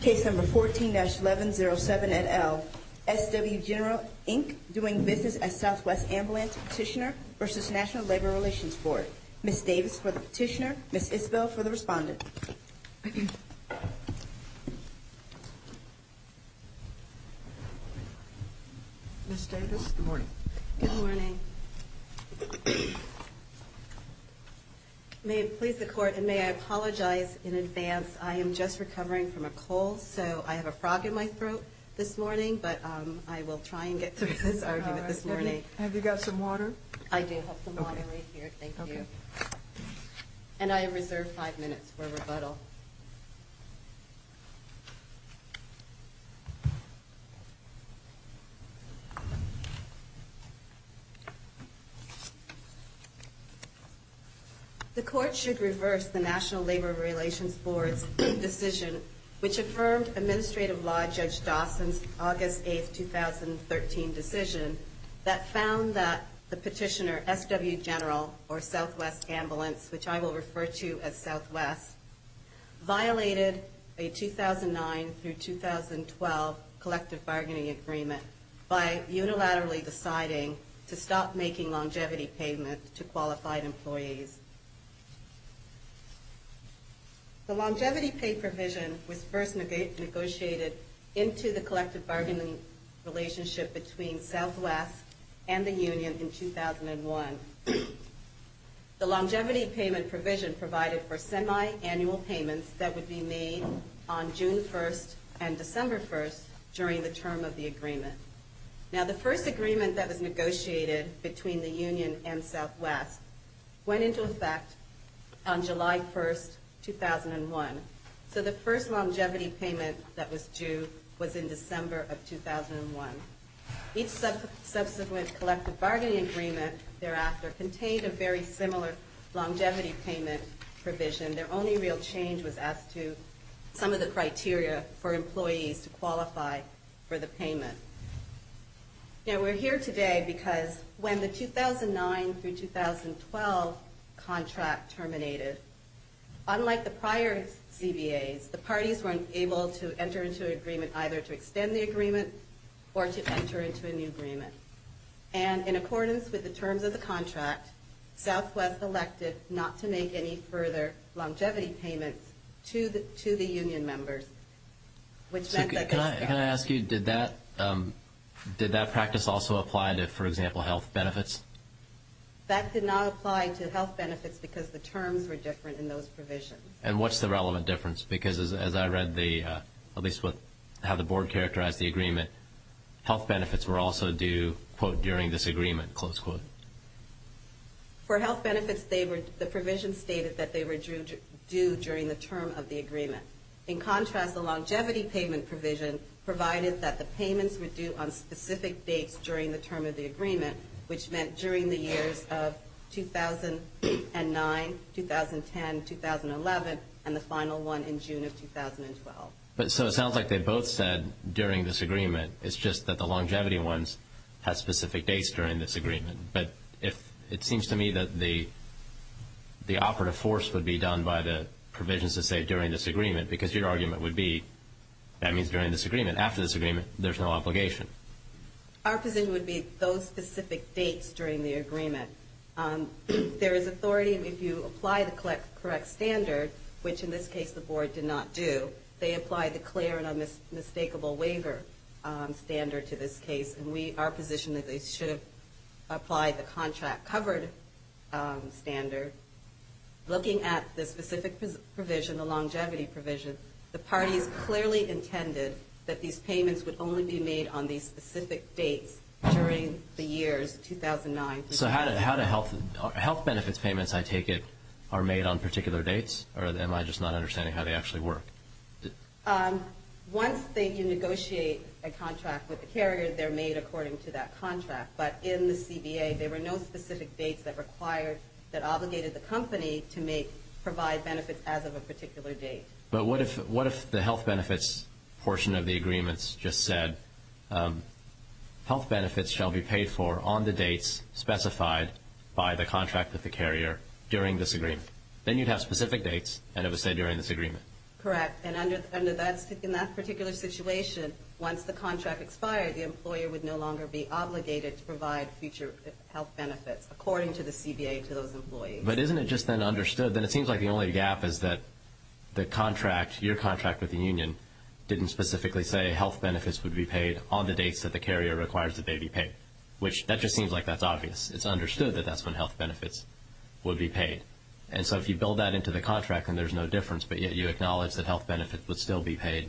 Case No. 14-1107 et al., SW General, Inc., doing business as Southwest Ambulance Petitioner v. National Labor Relations Board Ms. Davis for the petitioner, Ms. Isbell for the respondent Ms. Davis, good morning Good morning May it please the court, and may I apologize in advance, I am just recovering from a cold, so I have a frog in my throat this morning, but I will try and get through this argument this morning Have you got some water? I do have some water right here, thank you And I reserve five minutes for rebuttal The court should reverse the National Labor Relations Board's decision which affirmed Administrative Law Judge Dawson's August 8, 2013 decision that found that the petitioner, SW General, or Southwest Ambulance, which I will refer to as Southwest violated a 2009-2012 collective bargaining agreement by unilaterally deciding to stop making longevity payment to qualified employees The longevity pay provision was first negotiated into the collective bargaining relationship between Southwest and the union in 2001 The longevity payment provision provided for semi-annual payments that would be made on June 1 and December 1 during the term of the agreement Now the first agreement that was negotiated between the union and Southwest went into effect on July 1, 2001 So the first longevity payment that was due was in December of 2001 Each subsequent collective bargaining agreement thereafter contained a very similar longevity payment provision Their only real change was as to some of the criteria for employees to qualify for the payment Now we're here today because when the 2009-2012 contract terminated Unlike the prior CBAs, the parties weren't able to enter into an agreement either to extend the agreement or to enter into a new agreement And in accordance with the terms of the contract, Southwest elected not to make any further longevity payments to the union members Can I ask you, did that practice also apply to, for example, health benefits? That did not apply to health benefits because the terms were different in those provisions And what's the relevant difference? Because as I read the, at least how the board characterized the agreement Health benefits were also due, quote, during this agreement, close quote For health benefits, the provision stated that they were due during the term of the agreement In contrast, the longevity payment provision provided that the payments were due on specific dates during the term of the agreement Which meant during the years of 2009, 2010, 2011, and the final one in June of 2012 So it sounds like they both said during this agreement, it's just that the longevity ones have specific dates during this agreement But it seems to me that the operative force would be done by the provisions that say during this agreement Because your argument would be, that means during this agreement, after this agreement, there's no obligation Our position would be those specific dates during the agreement There is authority if you apply the correct standard, which in this case the board did not do They applied the clear and unmistakable waiver standard to this case And we are positioned that they should have applied the contract covered standard Looking at the specific provision, the longevity provision, the parties clearly intended That these payments would only be made on these specific dates during the years 2009, 2010 So how do health benefits payments, I take it, are made on particular dates? Or am I just not understanding how they actually work? Once you negotiate a contract with the carrier, they're made according to that contract But in the CBA, there were no specific dates that required, that obligated the company to provide benefits as of a particular date But what if the health benefits portion of the agreements just said Health benefits shall be paid for on the dates specified by the contract with the carrier during this agreement Then you'd have specific dates, and it would say during this agreement Correct, and in that particular situation, once the contract expired The employer would no longer be obligated to provide future health benefits according to the CBA to those employees But isn't it just then understood, then it seems like the only gap is that the contract, your contract with the union Didn't specifically say health benefits would be paid on the dates that the carrier requires that they be paid Which, that just seems like that's obvious, it's understood that that's when health benefits would be paid And so if you build that into the contract, then there's no difference But yet you acknowledge that health benefits would still be paid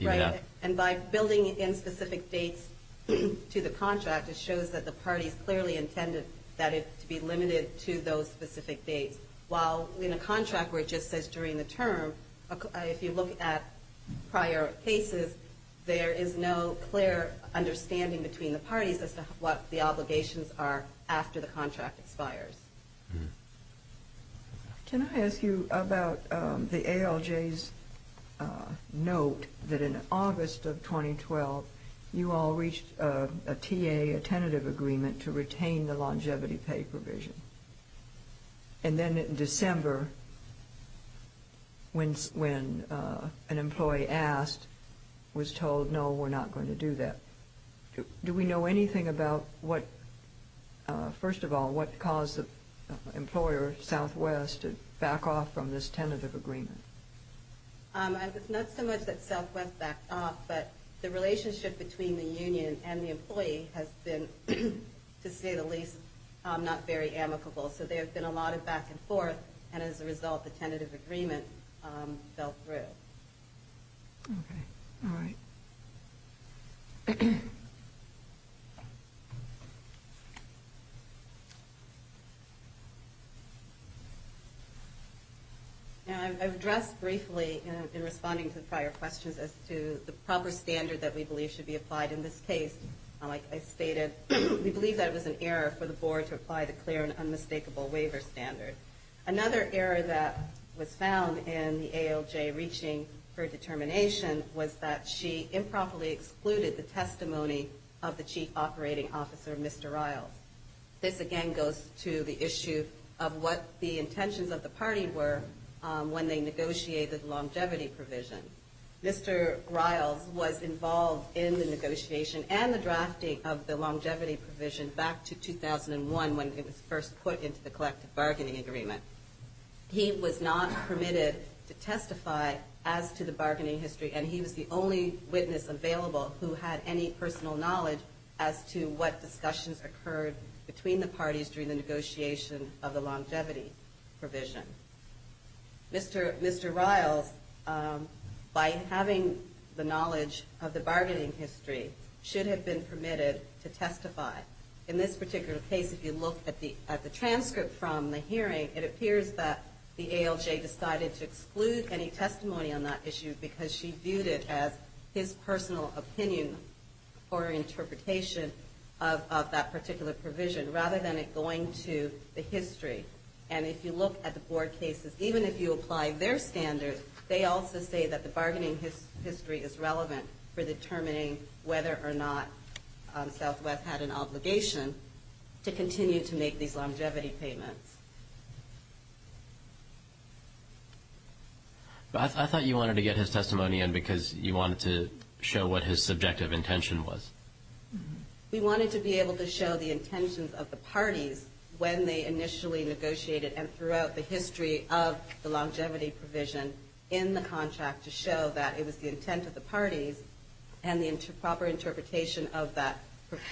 Right, and by building in specific dates to the contract It shows that the parties clearly intended that it to be limited to those specific dates While in a contract where it just says during the term, if you look at prior cases There is no clear understanding between the parties as to what the obligations are after the contract expires Can I ask you about the ALJ's note that in August of 2012 You all reached a TA, a tentative agreement to retain the longevity pay provision And then in December, when an employee asked, was told no, we're not going to do that Do we know anything about what, first of all, what caused the employer, Southwest, to back off from this tentative agreement Not so much that Southwest backed off, but the relationship between the union and the employee Has been, to say the least, not very amicable So there have been a lot of back and forth, and as a result, the tentative agreement fell through Okay, all right I've addressed briefly, in responding to the prior questions, as to the proper standard that we believe should be applied in this case Like I stated, we believe that it was an error for the board to apply the clear and unmistakable waiver standard Another error that was found in the ALJ reaching for a determination Was that she improperly excluded the testimony of the Chief Operating Officer, Mr. Riles This again goes to the issue of what the intentions of the party were when they negotiated the longevity provision Mr. Riles was involved in the negotiation and the drafting of the longevity provision back to 2001 When it was first put into the collective bargaining agreement He was not permitted to testify as to the bargaining history And he was the only witness available who had any personal knowledge as to what discussions occurred Between the parties during the negotiation of the longevity provision Mr. Riles, by having the knowledge of the bargaining history, should have been permitted to testify In this particular case, if you look at the transcript from the hearing It appears that the ALJ decided to exclude any testimony on that issue Because she viewed it as his personal opinion or interpretation of that particular provision Rather than it going to the history And if you look at the board cases, even if you apply their standards They also say that the bargaining history is relevant for determining whether or not Southwest had an obligation to continue to make these longevity payments I thought you wanted to get his testimony in because you wanted to show what his subjective intention was We wanted to be able to show the intentions of the parties when they initially negotiated And throughout the history of the longevity provision in the contract To show that it was the intent of the parties and the proper interpretation of that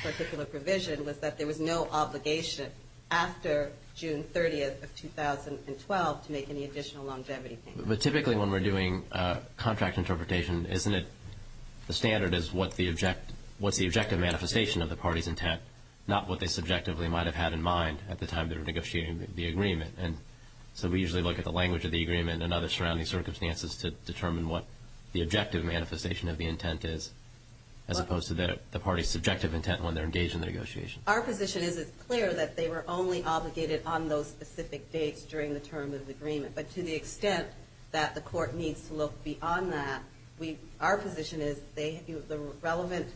particular provision Was that there was no obligation after June 30th of 2012 to make any additional longevity payments But typically when we're doing contract interpretation, isn't it The standard is what's the objective manifestation of the party's intent Not what they subjectively might have had in mind at the time they were negotiating the agreement So we usually look at the language of the agreement and other surrounding circumstances To determine what the objective manifestation of the intent is As opposed to the party's subjective intent when they're engaged in the negotiation Our position is it's clear that they were only obligated on those specific dates during the term of the agreement But to the extent that the court needs to look beyond that Our position is the relevant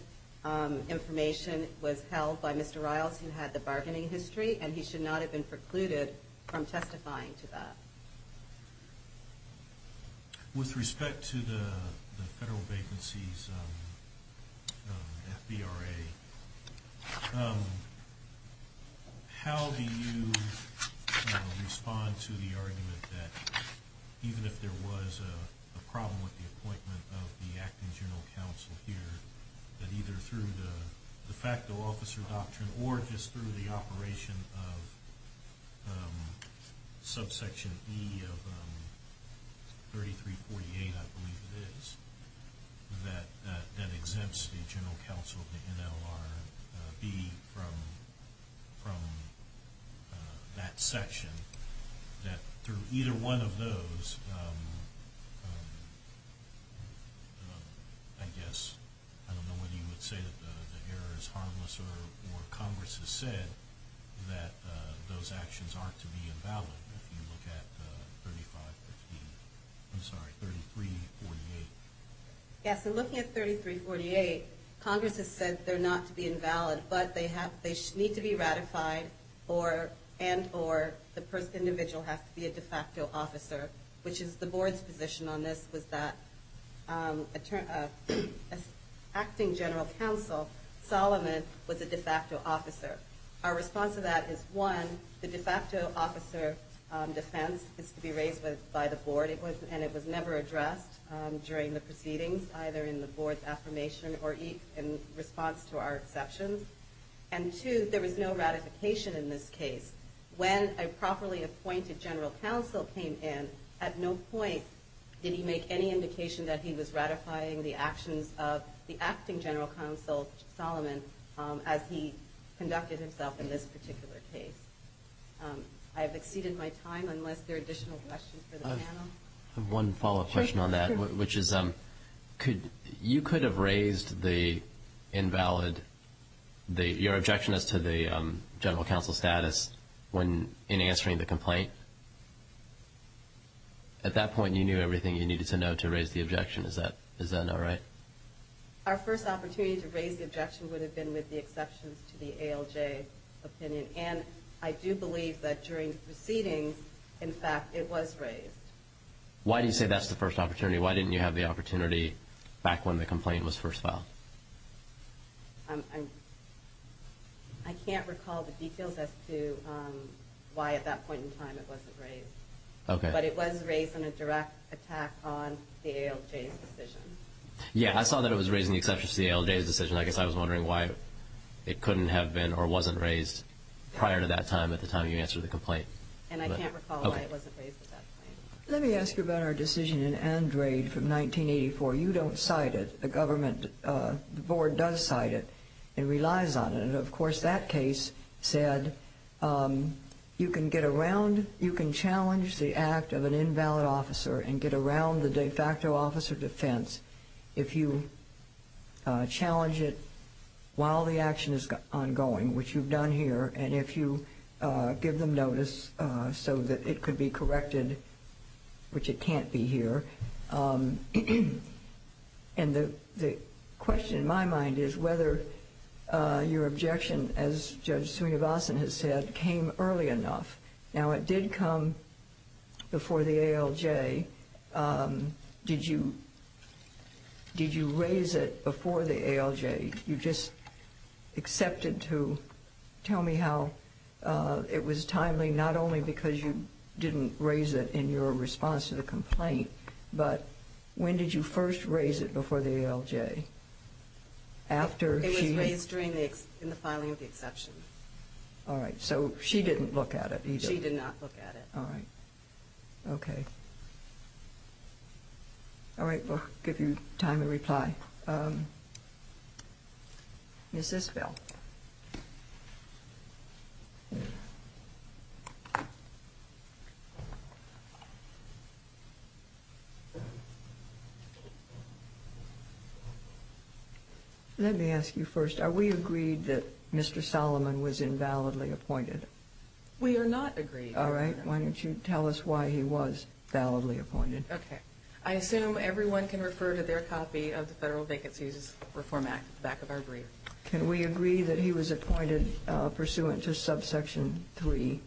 information was held by Mr. Riles who had the bargaining history And he should not have been precluded from testifying to that With respect to the Federal Vacancies FVRA How do you respond to the argument that Even if there was a problem with the appointment of the Acting General Counsel here That either through the de facto officer doctrine or just through the operation of Subsection E of 3348 I believe it is That exempts the General Counsel of the NLRB from that section That through either one of those I guess I don't know whether you would say that the error is harmless or Congress has said that those actions aren't to be invalid If you look at 3348 Yes, so looking at 3348, Congress has said they're not to be invalid But they need to be ratified and or the individual has to be a de facto officer Which is the board's position on this was that Acting General Counsel Solomon was a de facto officer Our response to that is one, the de facto officer defense is to be raised by the board And it was never addressed during the proceedings either in the board's affirmation Or in response to our exceptions And two, there was no ratification in this case When a properly appointed General Counsel came in At no point did he make any indication that he was ratifying the actions of The Acting General Counsel Solomon as he conducted himself in this particular case I have exceeded my time unless there are additional questions for the panel I have one follow-up question on that You could have raised the invalid Your objection as to the General Counsel's status in answering the complaint At that point you knew everything you needed to know to raise the objection Is that not right? Our first opportunity to raise the objection would have been with the exceptions to the ALJ opinion And I do believe that during proceedings in fact it was raised Why do you say that's the first opportunity? Why didn't you have the opportunity back when the complaint was first filed? I can't recall the details as to why at that point in time it wasn't raised But it was raised in a direct attack on the ALJ's decision Yeah, I saw that it was raised in the exception to the ALJ's decision I guess I was wondering why it couldn't have been or wasn't raised prior to that time At the time you answered the complaint And I can't recall why it wasn't raised at that point Let me ask you about our decision in Andrade from 1984 You don't cite it, the government, the Board does cite it And relies on it, and of course that case said You can challenge the act of an invalid officer And get around the de facto officer defense If you challenge it while the action is ongoing Which you've done here And if you give them notice so that it could be corrected Which it can't be here And the question in my mind is Whether your objection, as Judge Sunivasan has said, came early enough Now it did come before the ALJ Did you raise it before the ALJ? You just accepted to tell me how it was timely Not only because you didn't raise it in your response to the complaint But when did you first raise it before the ALJ? It was raised in the filing of the exception Alright, so she didn't look at it either She did not look at it Alright, okay Alright, we'll give you time to reply Is this Bill? Let me ask you first, are we agreed that Mr. Solomon was invalidly appointed? We are not agreed Alright, why don't you tell us why he was invalidly appointed Okay, I assume everyone can refer to their copy of the Federal Vacancies Reform Act At the back of our brief Can we agree that he was appointed pursuant to subsection 3?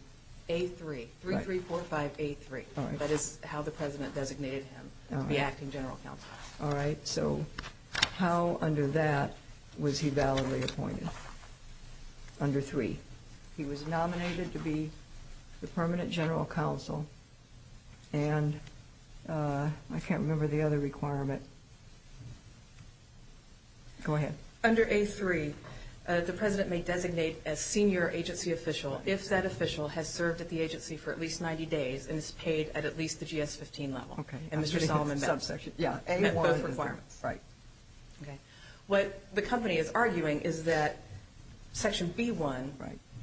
A3, 3345A3 That is how the President designated him to be acting General Counsel Alright, so how under that was he validly appointed? Under 3 He was nominated to be the Permanent General Counsel And I can't remember the other requirement Go ahead Under A3, the President may designate a senior agency official If that official has served at the agency for at least 90 days And is paid at at least the GS-15 level And Mr. Solomon met both requirements What the company is arguing is that Section B1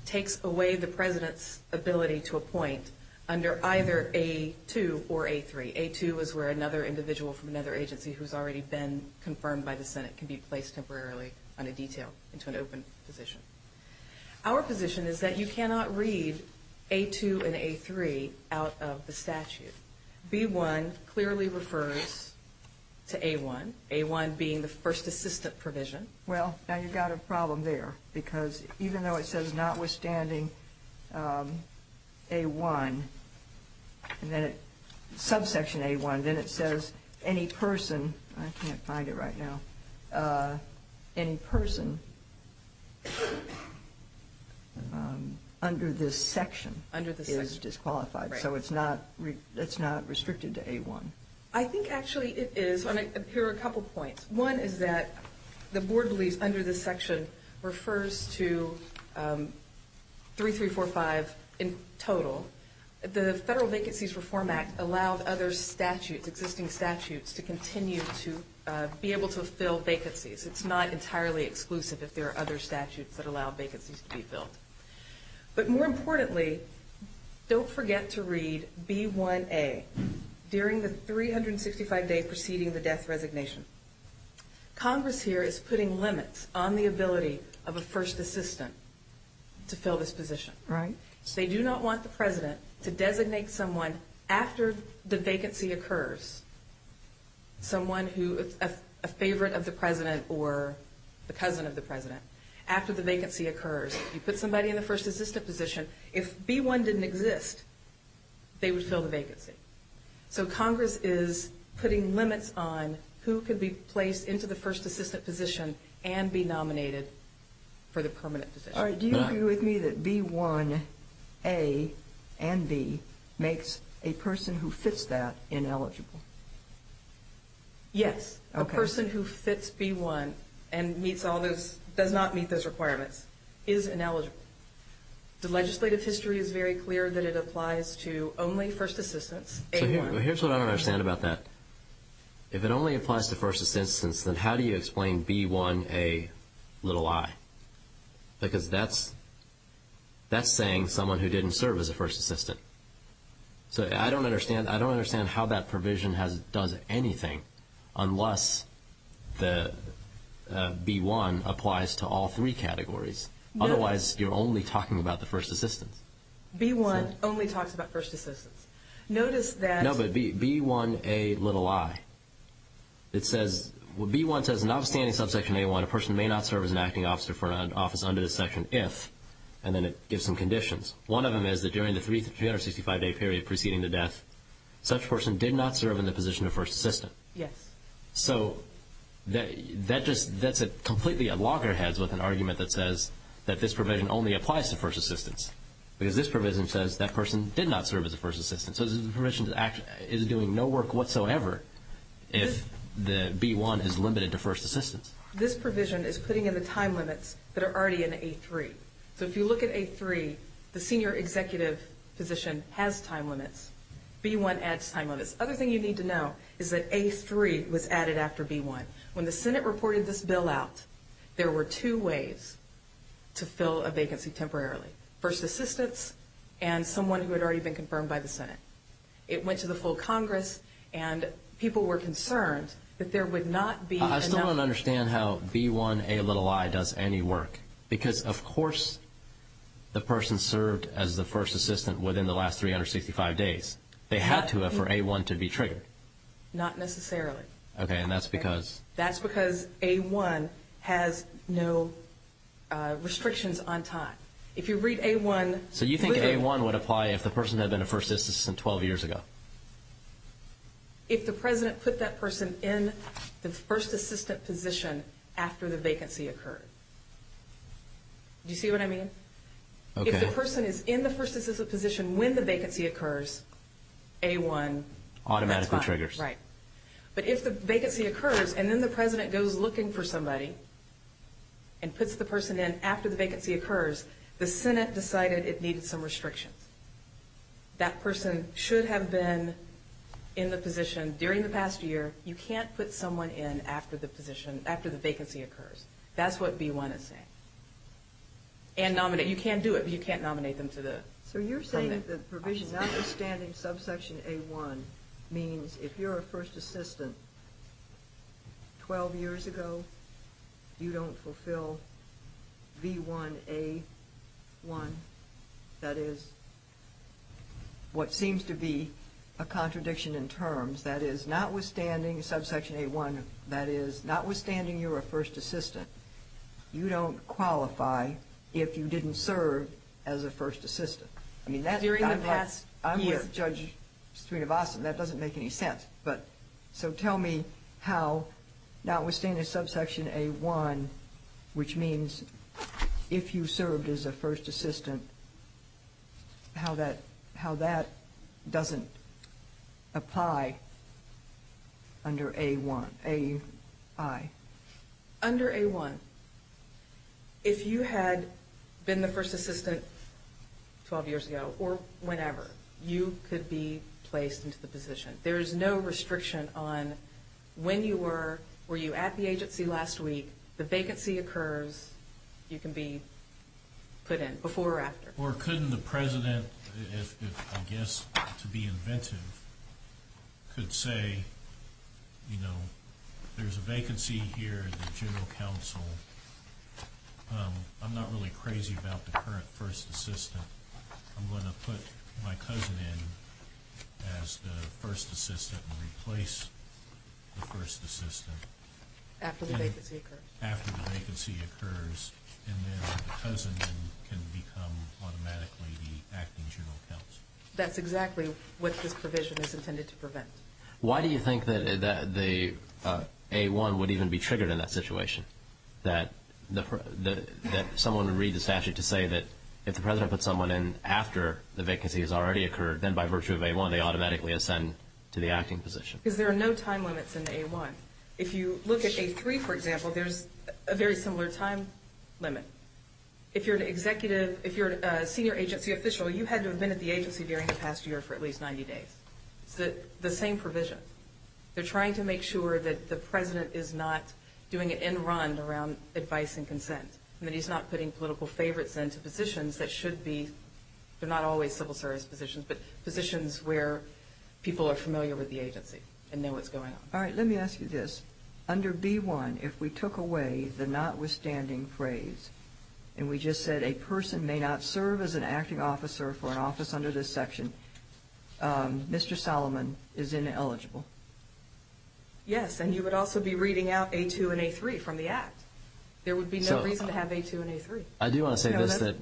Takes away the President's ability to appoint under either A2 or A3 A2 is where another individual from another agency who has already been confirmed by the Senate Can be placed temporarily on a detail into an open position Our position is that you cannot read A2 and A3 out of the statute B1 clearly refers to A1 A1 being the first assistant provision Well, now you've got a problem there Because even though it says notwithstanding A1 Subsection A1, then it says any person I can't find it right now Any person under this section is disqualified So it's not restricted to A1 I think actually it is Here are a couple points One is that the board believes under this section Refers to 3345 in total The Federal Vacancies Reform Act Allowed existing statutes to continue to be able to fill vacancies It's not entirely exclusive if there are other statutes that allow vacancies to be filled But more importantly, don't forget to read B1A During the 365 days preceding the death resignation Congress here is putting limits on the ability of a first assistant To fill this position They do not want the president to designate someone after the vacancy occurs Someone who is a favorite of the president or the cousin of the president After the vacancy occurs You put somebody in the first assistant position If B1 didn't exist, they would fill the vacancy So Congress is putting limits on who could be placed into the first assistant position And be nominated for the permanent position Do you agree with me that B1A and B makes a person who fits that ineligible? Yes, a person who fits B1 and does not meet those requirements is ineligible The legislative history is very clear that it applies to only first assistants Here's what I don't understand about that If it only applies to first assistants, then how do you explain B1A? Because that's saying someone who didn't serve as a first assistant I don't understand how that provision does anything Unless B1 applies to all three categories Otherwise, you're only talking about the first assistants B1 only talks about first assistants Notice that... No, but B1Ai B1 says in the outstanding subsection A1 A person may not serve as an acting officer for an office under this section if... And then it gives some conditions One of them is that during the 365-day period preceding the death Such person did not serve in the position of first assistant Yes So that's completely a loggerhead with an argument that says That this provision only applies to first assistants Because this provision says that person did not serve as a first assistant So this provision is doing no work whatsoever If B1 is limited to first assistants This provision is putting in the time limits that are already in A3 So if you look at A3 The senior executive position has time limits B1 adds time limits Other thing you need to know is that A3 was added after B1 When the Senate reported this bill out There were two ways to fill a vacancy temporarily First assistants and someone who had already been confirmed by the Senate It went to the full Congress And people were concerned that there would not be enough... I still don't understand how B1Ai does any work Because of course the person served as the first assistant Within the last 365 days They had to have for A1 to be triggered Not necessarily Okay, and that's because... That's because A1 has no restrictions on time If you read A1... So you think A1 would apply if the person had been a first assistant 12 years ago? If the president put that person in the first assistant position After the vacancy occurred Do you see what I mean? If the person is in the first assistant position when the vacancy occurs A1... Automatically triggers Right But if the vacancy occurs And then the president goes looking for somebody And puts the person in after the vacancy occurs The Senate decided it needed some restrictions That person should have been in the position during the past year You can't put someone in after the vacancy occurs That's what B1 is saying And nominate... You can do it, but you can't nominate them to the... So you're saying that the provision notwithstanding subsection A1 Means if you're a first assistant 12 years ago You don't fulfill B1A1 That is what seems to be a contradiction in terms That is notwithstanding subsection A1 That is notwithstanding you're a first assistant You don't qualify if you didn't serve as a first assistant During the past year I'm with Judge Srinivasan, that doesn't make any sense So tell me how notwithstanding subsection A1 Which means if you served as a first assistant How that doesn't apply under A1, AI Under A1, if you had been the first assistant 12 years ago Or whenever, you could be placed into the position There is no restriction on when you were Were you at the agency last week If the vacancy occurs, you can be put in, before or after Or couldn't the president, if I guess to be inventive Could say, you know, there's a vacancy here At the General Counsel I'm not really crazy about the current first assistant I'm going to put my cousin in as the first assistant And replace the first assistant After the vacancy occurs After the vacancy occurs And then the cousin can become automatically the acting General Counsel That's exactly what this provision is intended to prevent Why do you think that A1 would even be triggered in that situation? That someone would read the statute to say that If the president put someone in after the vacancy has already occurred Then by virtue of A1 they automatically ascend to the acting position Because there are no time limits in A1 If you look at A3, for example, there's a very similar time limit If you're an executive, if you're a senior agency official You had to have been at the agency during the past year for at least 90 days It's the same provision They're trying to make sure that the president is not doing it in run Around advice and consent And that he's not putting political favorites into positions that should be They're not always civil service positions But positions where people are familiar with the agency And know what's going on All right, let me ask you this Under B1, if we took away the notwithstanding phrase And we just said a person may not serve as an acting officer For an office under this section Mr. Solomon is ineligible Yes, and you would also be reading out A2 and A3 from the act There would be no reason to have A2 and A3 I do want to say this that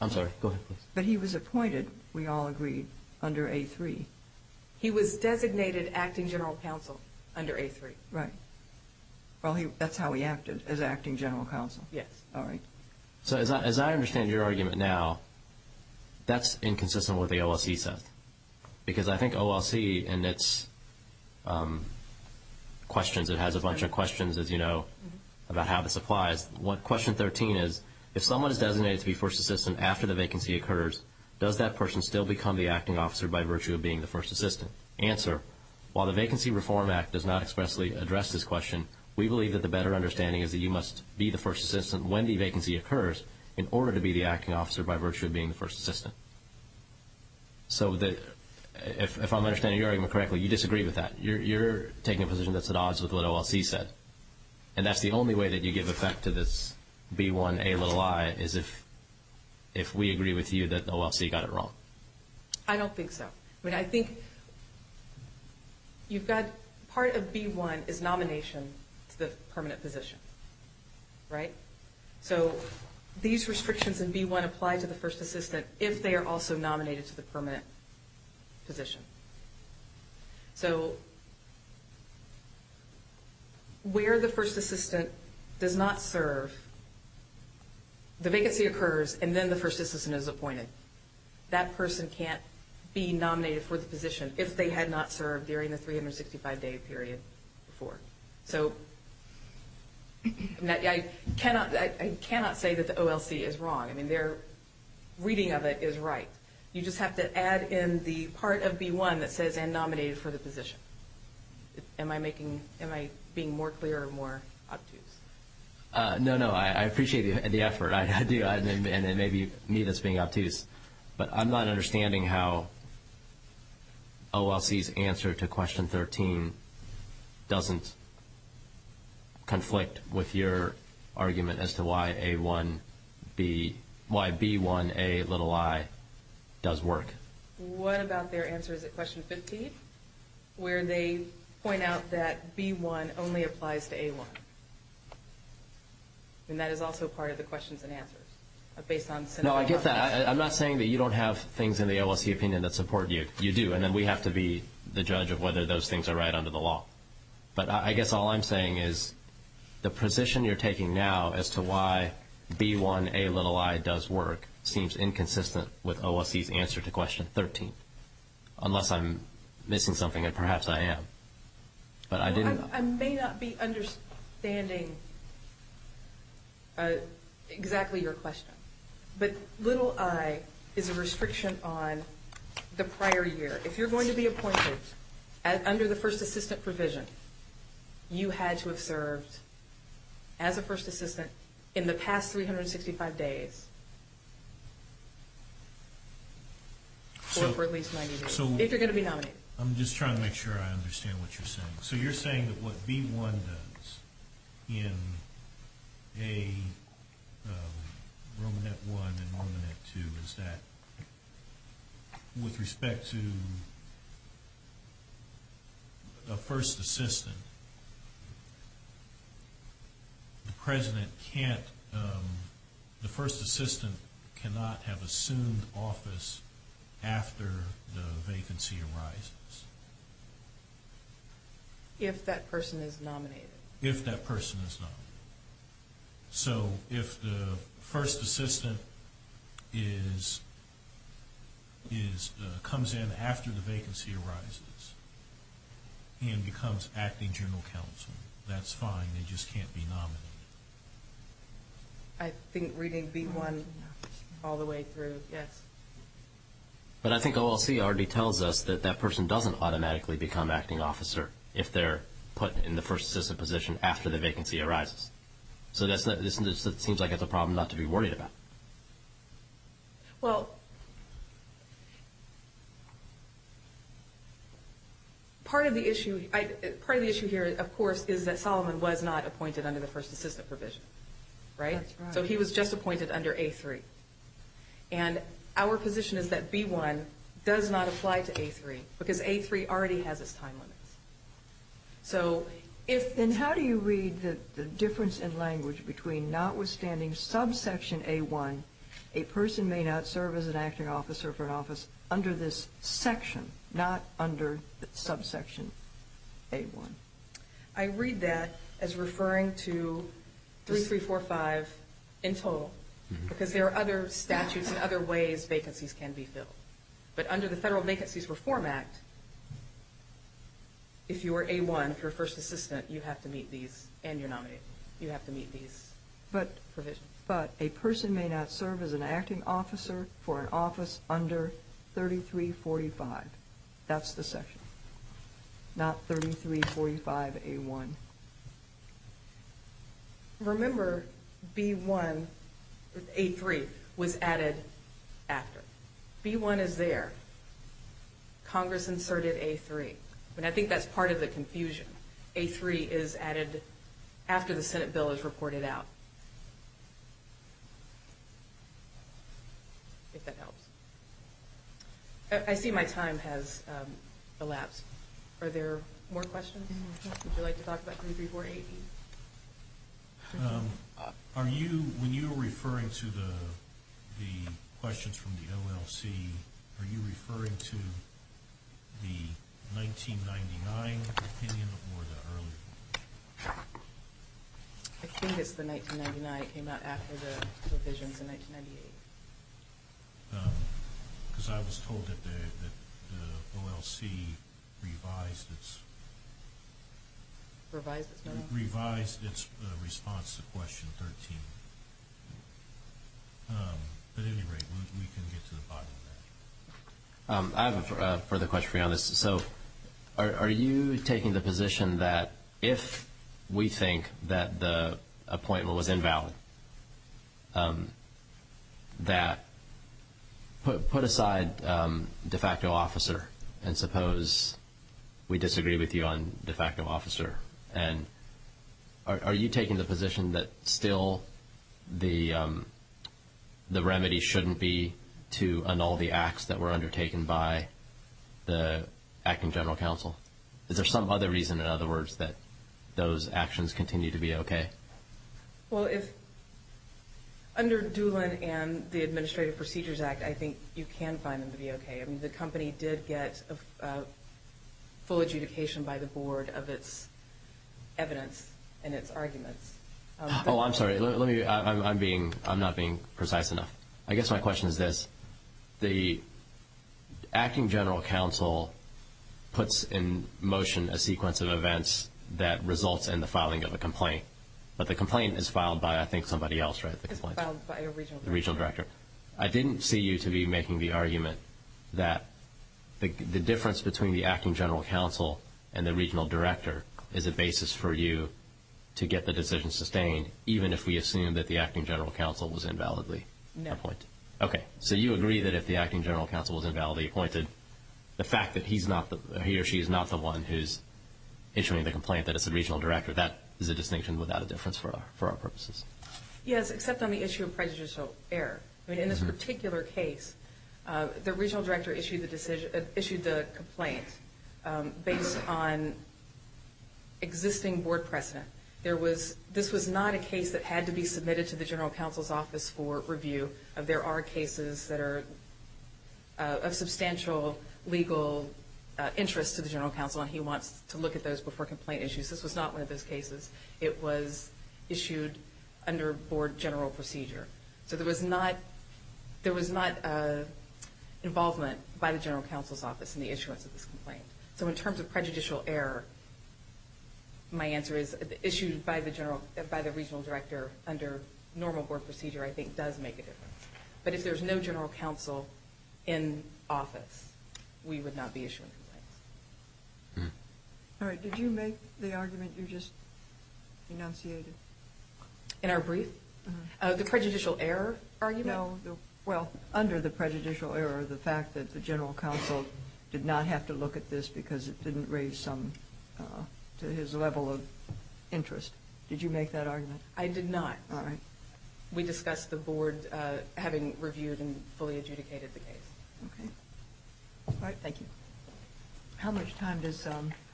I'm sorry, go ahead But he was appointed, we all agreed, under A3 He was designated acting general counsel under A3 Right, well that's how he acted, as acting general counsel Yes All right So as I understand your argument now That's inconsistent with the OLC set Because I think OLC and its questions It has a bunch of questions, as you know, about how this applies Question 13 is If someone is designated to be first assistant after the vacancy occurs Does that person still become the acting officer by virtue of being the first assistant? Answer While the Vacancy Reform Act does not expressly address this question We believe that the better understanding is that you must be the first assistant When the vacancy occurs In order to be the acting officer by virtue of being the first assistant So if I'm understanding your argument correctly You disagree with that You're taking a position that's at odds with what OLC said And that's the only way that you give effect to this B1Ai Is if we agree with you that the OLC got it wrong I don't think so I think part of B1 is nomination to the permanent position Right So these restrictions in B1 apply to the first assistant If they are also nominated to the permanent position So Where the first assistant does not serve The vacancy occurs and then the first assistant is appointed That person can't be nominated for the position If they had not served during the 365 day period before So I cannot say that the OLC is wrong I mean their reading of it is right You just have to add in the part of B1 that says and nominated for the position Am I making Am I being more clear or more obtuse No, no, I appreciate the effort I do And it may be me that's being obtuse But I'm not understanding how OLC's answer to question 13 Doesn't Conflict with your argument as to why A1 Why B1Ai does work What about their answers at question 15 Where they point out that B1 only applies to A1 And that is also part of the questions and answers Based on No, I get that I'm not saying that you don't have things in the OLC opinion that support you You do And then we have to be the judge of whether those things are right under the law But I guess all I'm saying is The position you're taking now as to why B1Ai does work Seems inconsistent with OLC's answer to question 13 Unless I'm missing something and perhaps I am But I didn't I may not be understanding Exactly your question But is a restriction on the prior year If you're going to be appointed Under the first assistant provision You had to have served As a first assistant In the past 365 days Or for at least 90 days If you're going to be nominated I'm just trying to make sure I understand what you're saying So you're saying that what B1 does In A Romanet I and Romanet II Is that With respect to A first assistant The president can't The first assistant cannot have assumed office After the vacancy arises If that person is nominated If that person is nominated So if the first assistant Is Comes in after the vacancy arises And becomes acting general counsel That's fine They just can't be nominated I think reading B1 All the way through Yes But I think OLC already tells us That that person doesn't automatically become acting officer If they're put in the first assistant position After the vacancy arises So it seems like it's a problem not to be worried about Well Part of the issue Part of the issue here, of course, is that Solomon Was not appointed under the first assistant provision Right? So he was just appointed under A3 And our position is that B1 Does not apply to A3 Because A3 already has its time limits So if Then how do you read the difference in language Between notwithstanding subsection A1 A person may not serve as an acting officer for an office Under this section Not under subsection A1 I read that as referring to 3, 3, 4, 5 in total Because there are other statutes And other ways vacancies can be filled But under the Federal Vacancies Reform Act If you are A1, if you're a first assistant You have to meet these And you're nominated You have to meet these But But a person may not serve as an acting officer For an office under 3, 3, 4, 5 That's the section Not 3, 3, 4, 5, A1 Remember B1 A3 Was added After B1 is there Congress inserted A3 And I think that's part of the confusion A3 is added After the Senate bill is reported out If that helps I see my time has elapsed Are there more questions? Would you like to talk about 3, 3, 4, 8? Are you When you were referring to the The questions from the OLC Are you referring to The 1999 opinion Or the earlier one? I think it's the 1999 It came out after the revisions in 1998 Because I was told that the The OLC revised its Revised its what? Revised its response to question 13 But at any rate I have a further question for you on this So Are you taking the position that If we think that the Appointment was invalid That Put aside De facto officer And suppose We disagree with you on de facto officer And Are you taking the position that still The The remedy shouldn't be To annul the acts that were undertaken by The Acting General Counsel? Is there some other reason in other words that Those actions continue to be okay? Well if Under Doolin and the Administrative Procedures Act I think you can find them to be okay The company did get Full adjudication by the board of its Evidence and its arguments Oh I'm sorry I'm being I'm not being precise enough I guess my question is this The Acting General Counsel Puts in motion a sequence of events That results in the filing of a complaint But the complaint is filed by I think somebody else right? It's filed by a regional director Regional director I didn't see you to be making the argument That The difference between the Acting General Counsel And the regional director Is a basis for you To get the decision sustained Even if we assume that the Acting General Counsel Was invalidly No Okay So you agree that if the Acting General Counsel Was invalidly appointed The fact that he's not He or she is not the one who's Issuing the complaint That it's the regional director That is a distinction without a difference For our purposes Yes except on the issue of prejudicial error I mean in this particular case The regional director issued the decision Issued the complaint Based on Existing board precedent There was This was not a case that had to be submitted To the General Counsel's office for review There are cases that are Of substantial Legal Interest to the General Counsel And he wants to look at those before complaint issues This was not one of those cases It was issued Under board general procedure So there was not There was not Involvement by the General Counsel's office In the issuance of this complaint So in terms of prejudicial error My answer is Issued by the regional director Under normal board procedure I think does make a difference But if there's no General Counsel In office We would not be issuing complaints Alright did you make The argument you just Enunciated In our brief The prejudicial error argument Well under the prejudicial error The fact that the General Counsel Did not have to look at this Because it didn't raise some To his level of interest Did you make that argument I did not Alright We discussed the board Having reviewed and Fully adjudicated the case Alright thank you How much time does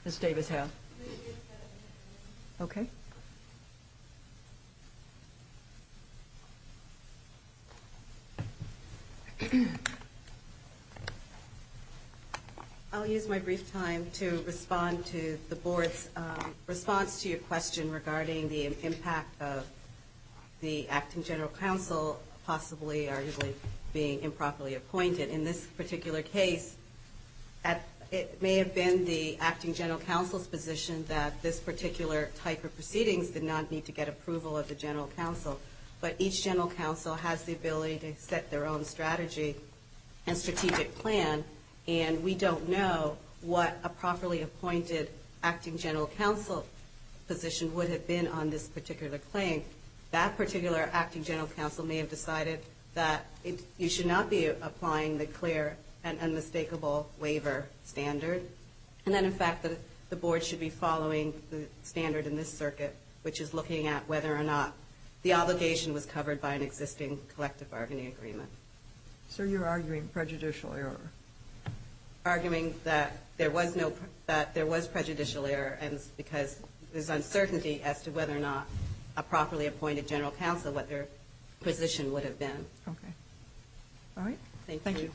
Ms. Davis have Okay I'll use my brief time To respond to the board's Response to your question Regarding the impact of The Acting General Counsel Possibly arguably Being improperly appointed In this particular case It may have been the Acting General Counsel's position That this particular type of proceedings Did not need to get approval of the General Counsel But each General Counsel Has the ability to set their own strategy And strategic plan And we don't know What a properly appointed Acting General Counsel Position would have been on this particular claim That particular Acting General Counsel May have decided that You should not be applying The clear and unmistakable Waiver standard And then in fact the board should be following The standard in this circuit Which is looking at whether or not The obligation was covered by an existing Collective bargaining agreement So you're arguing prejudicial error Arguing that There was prejudicial error Because there's uncertainty As to whether or not A properly appointed General Counsel What their position would have been Thank you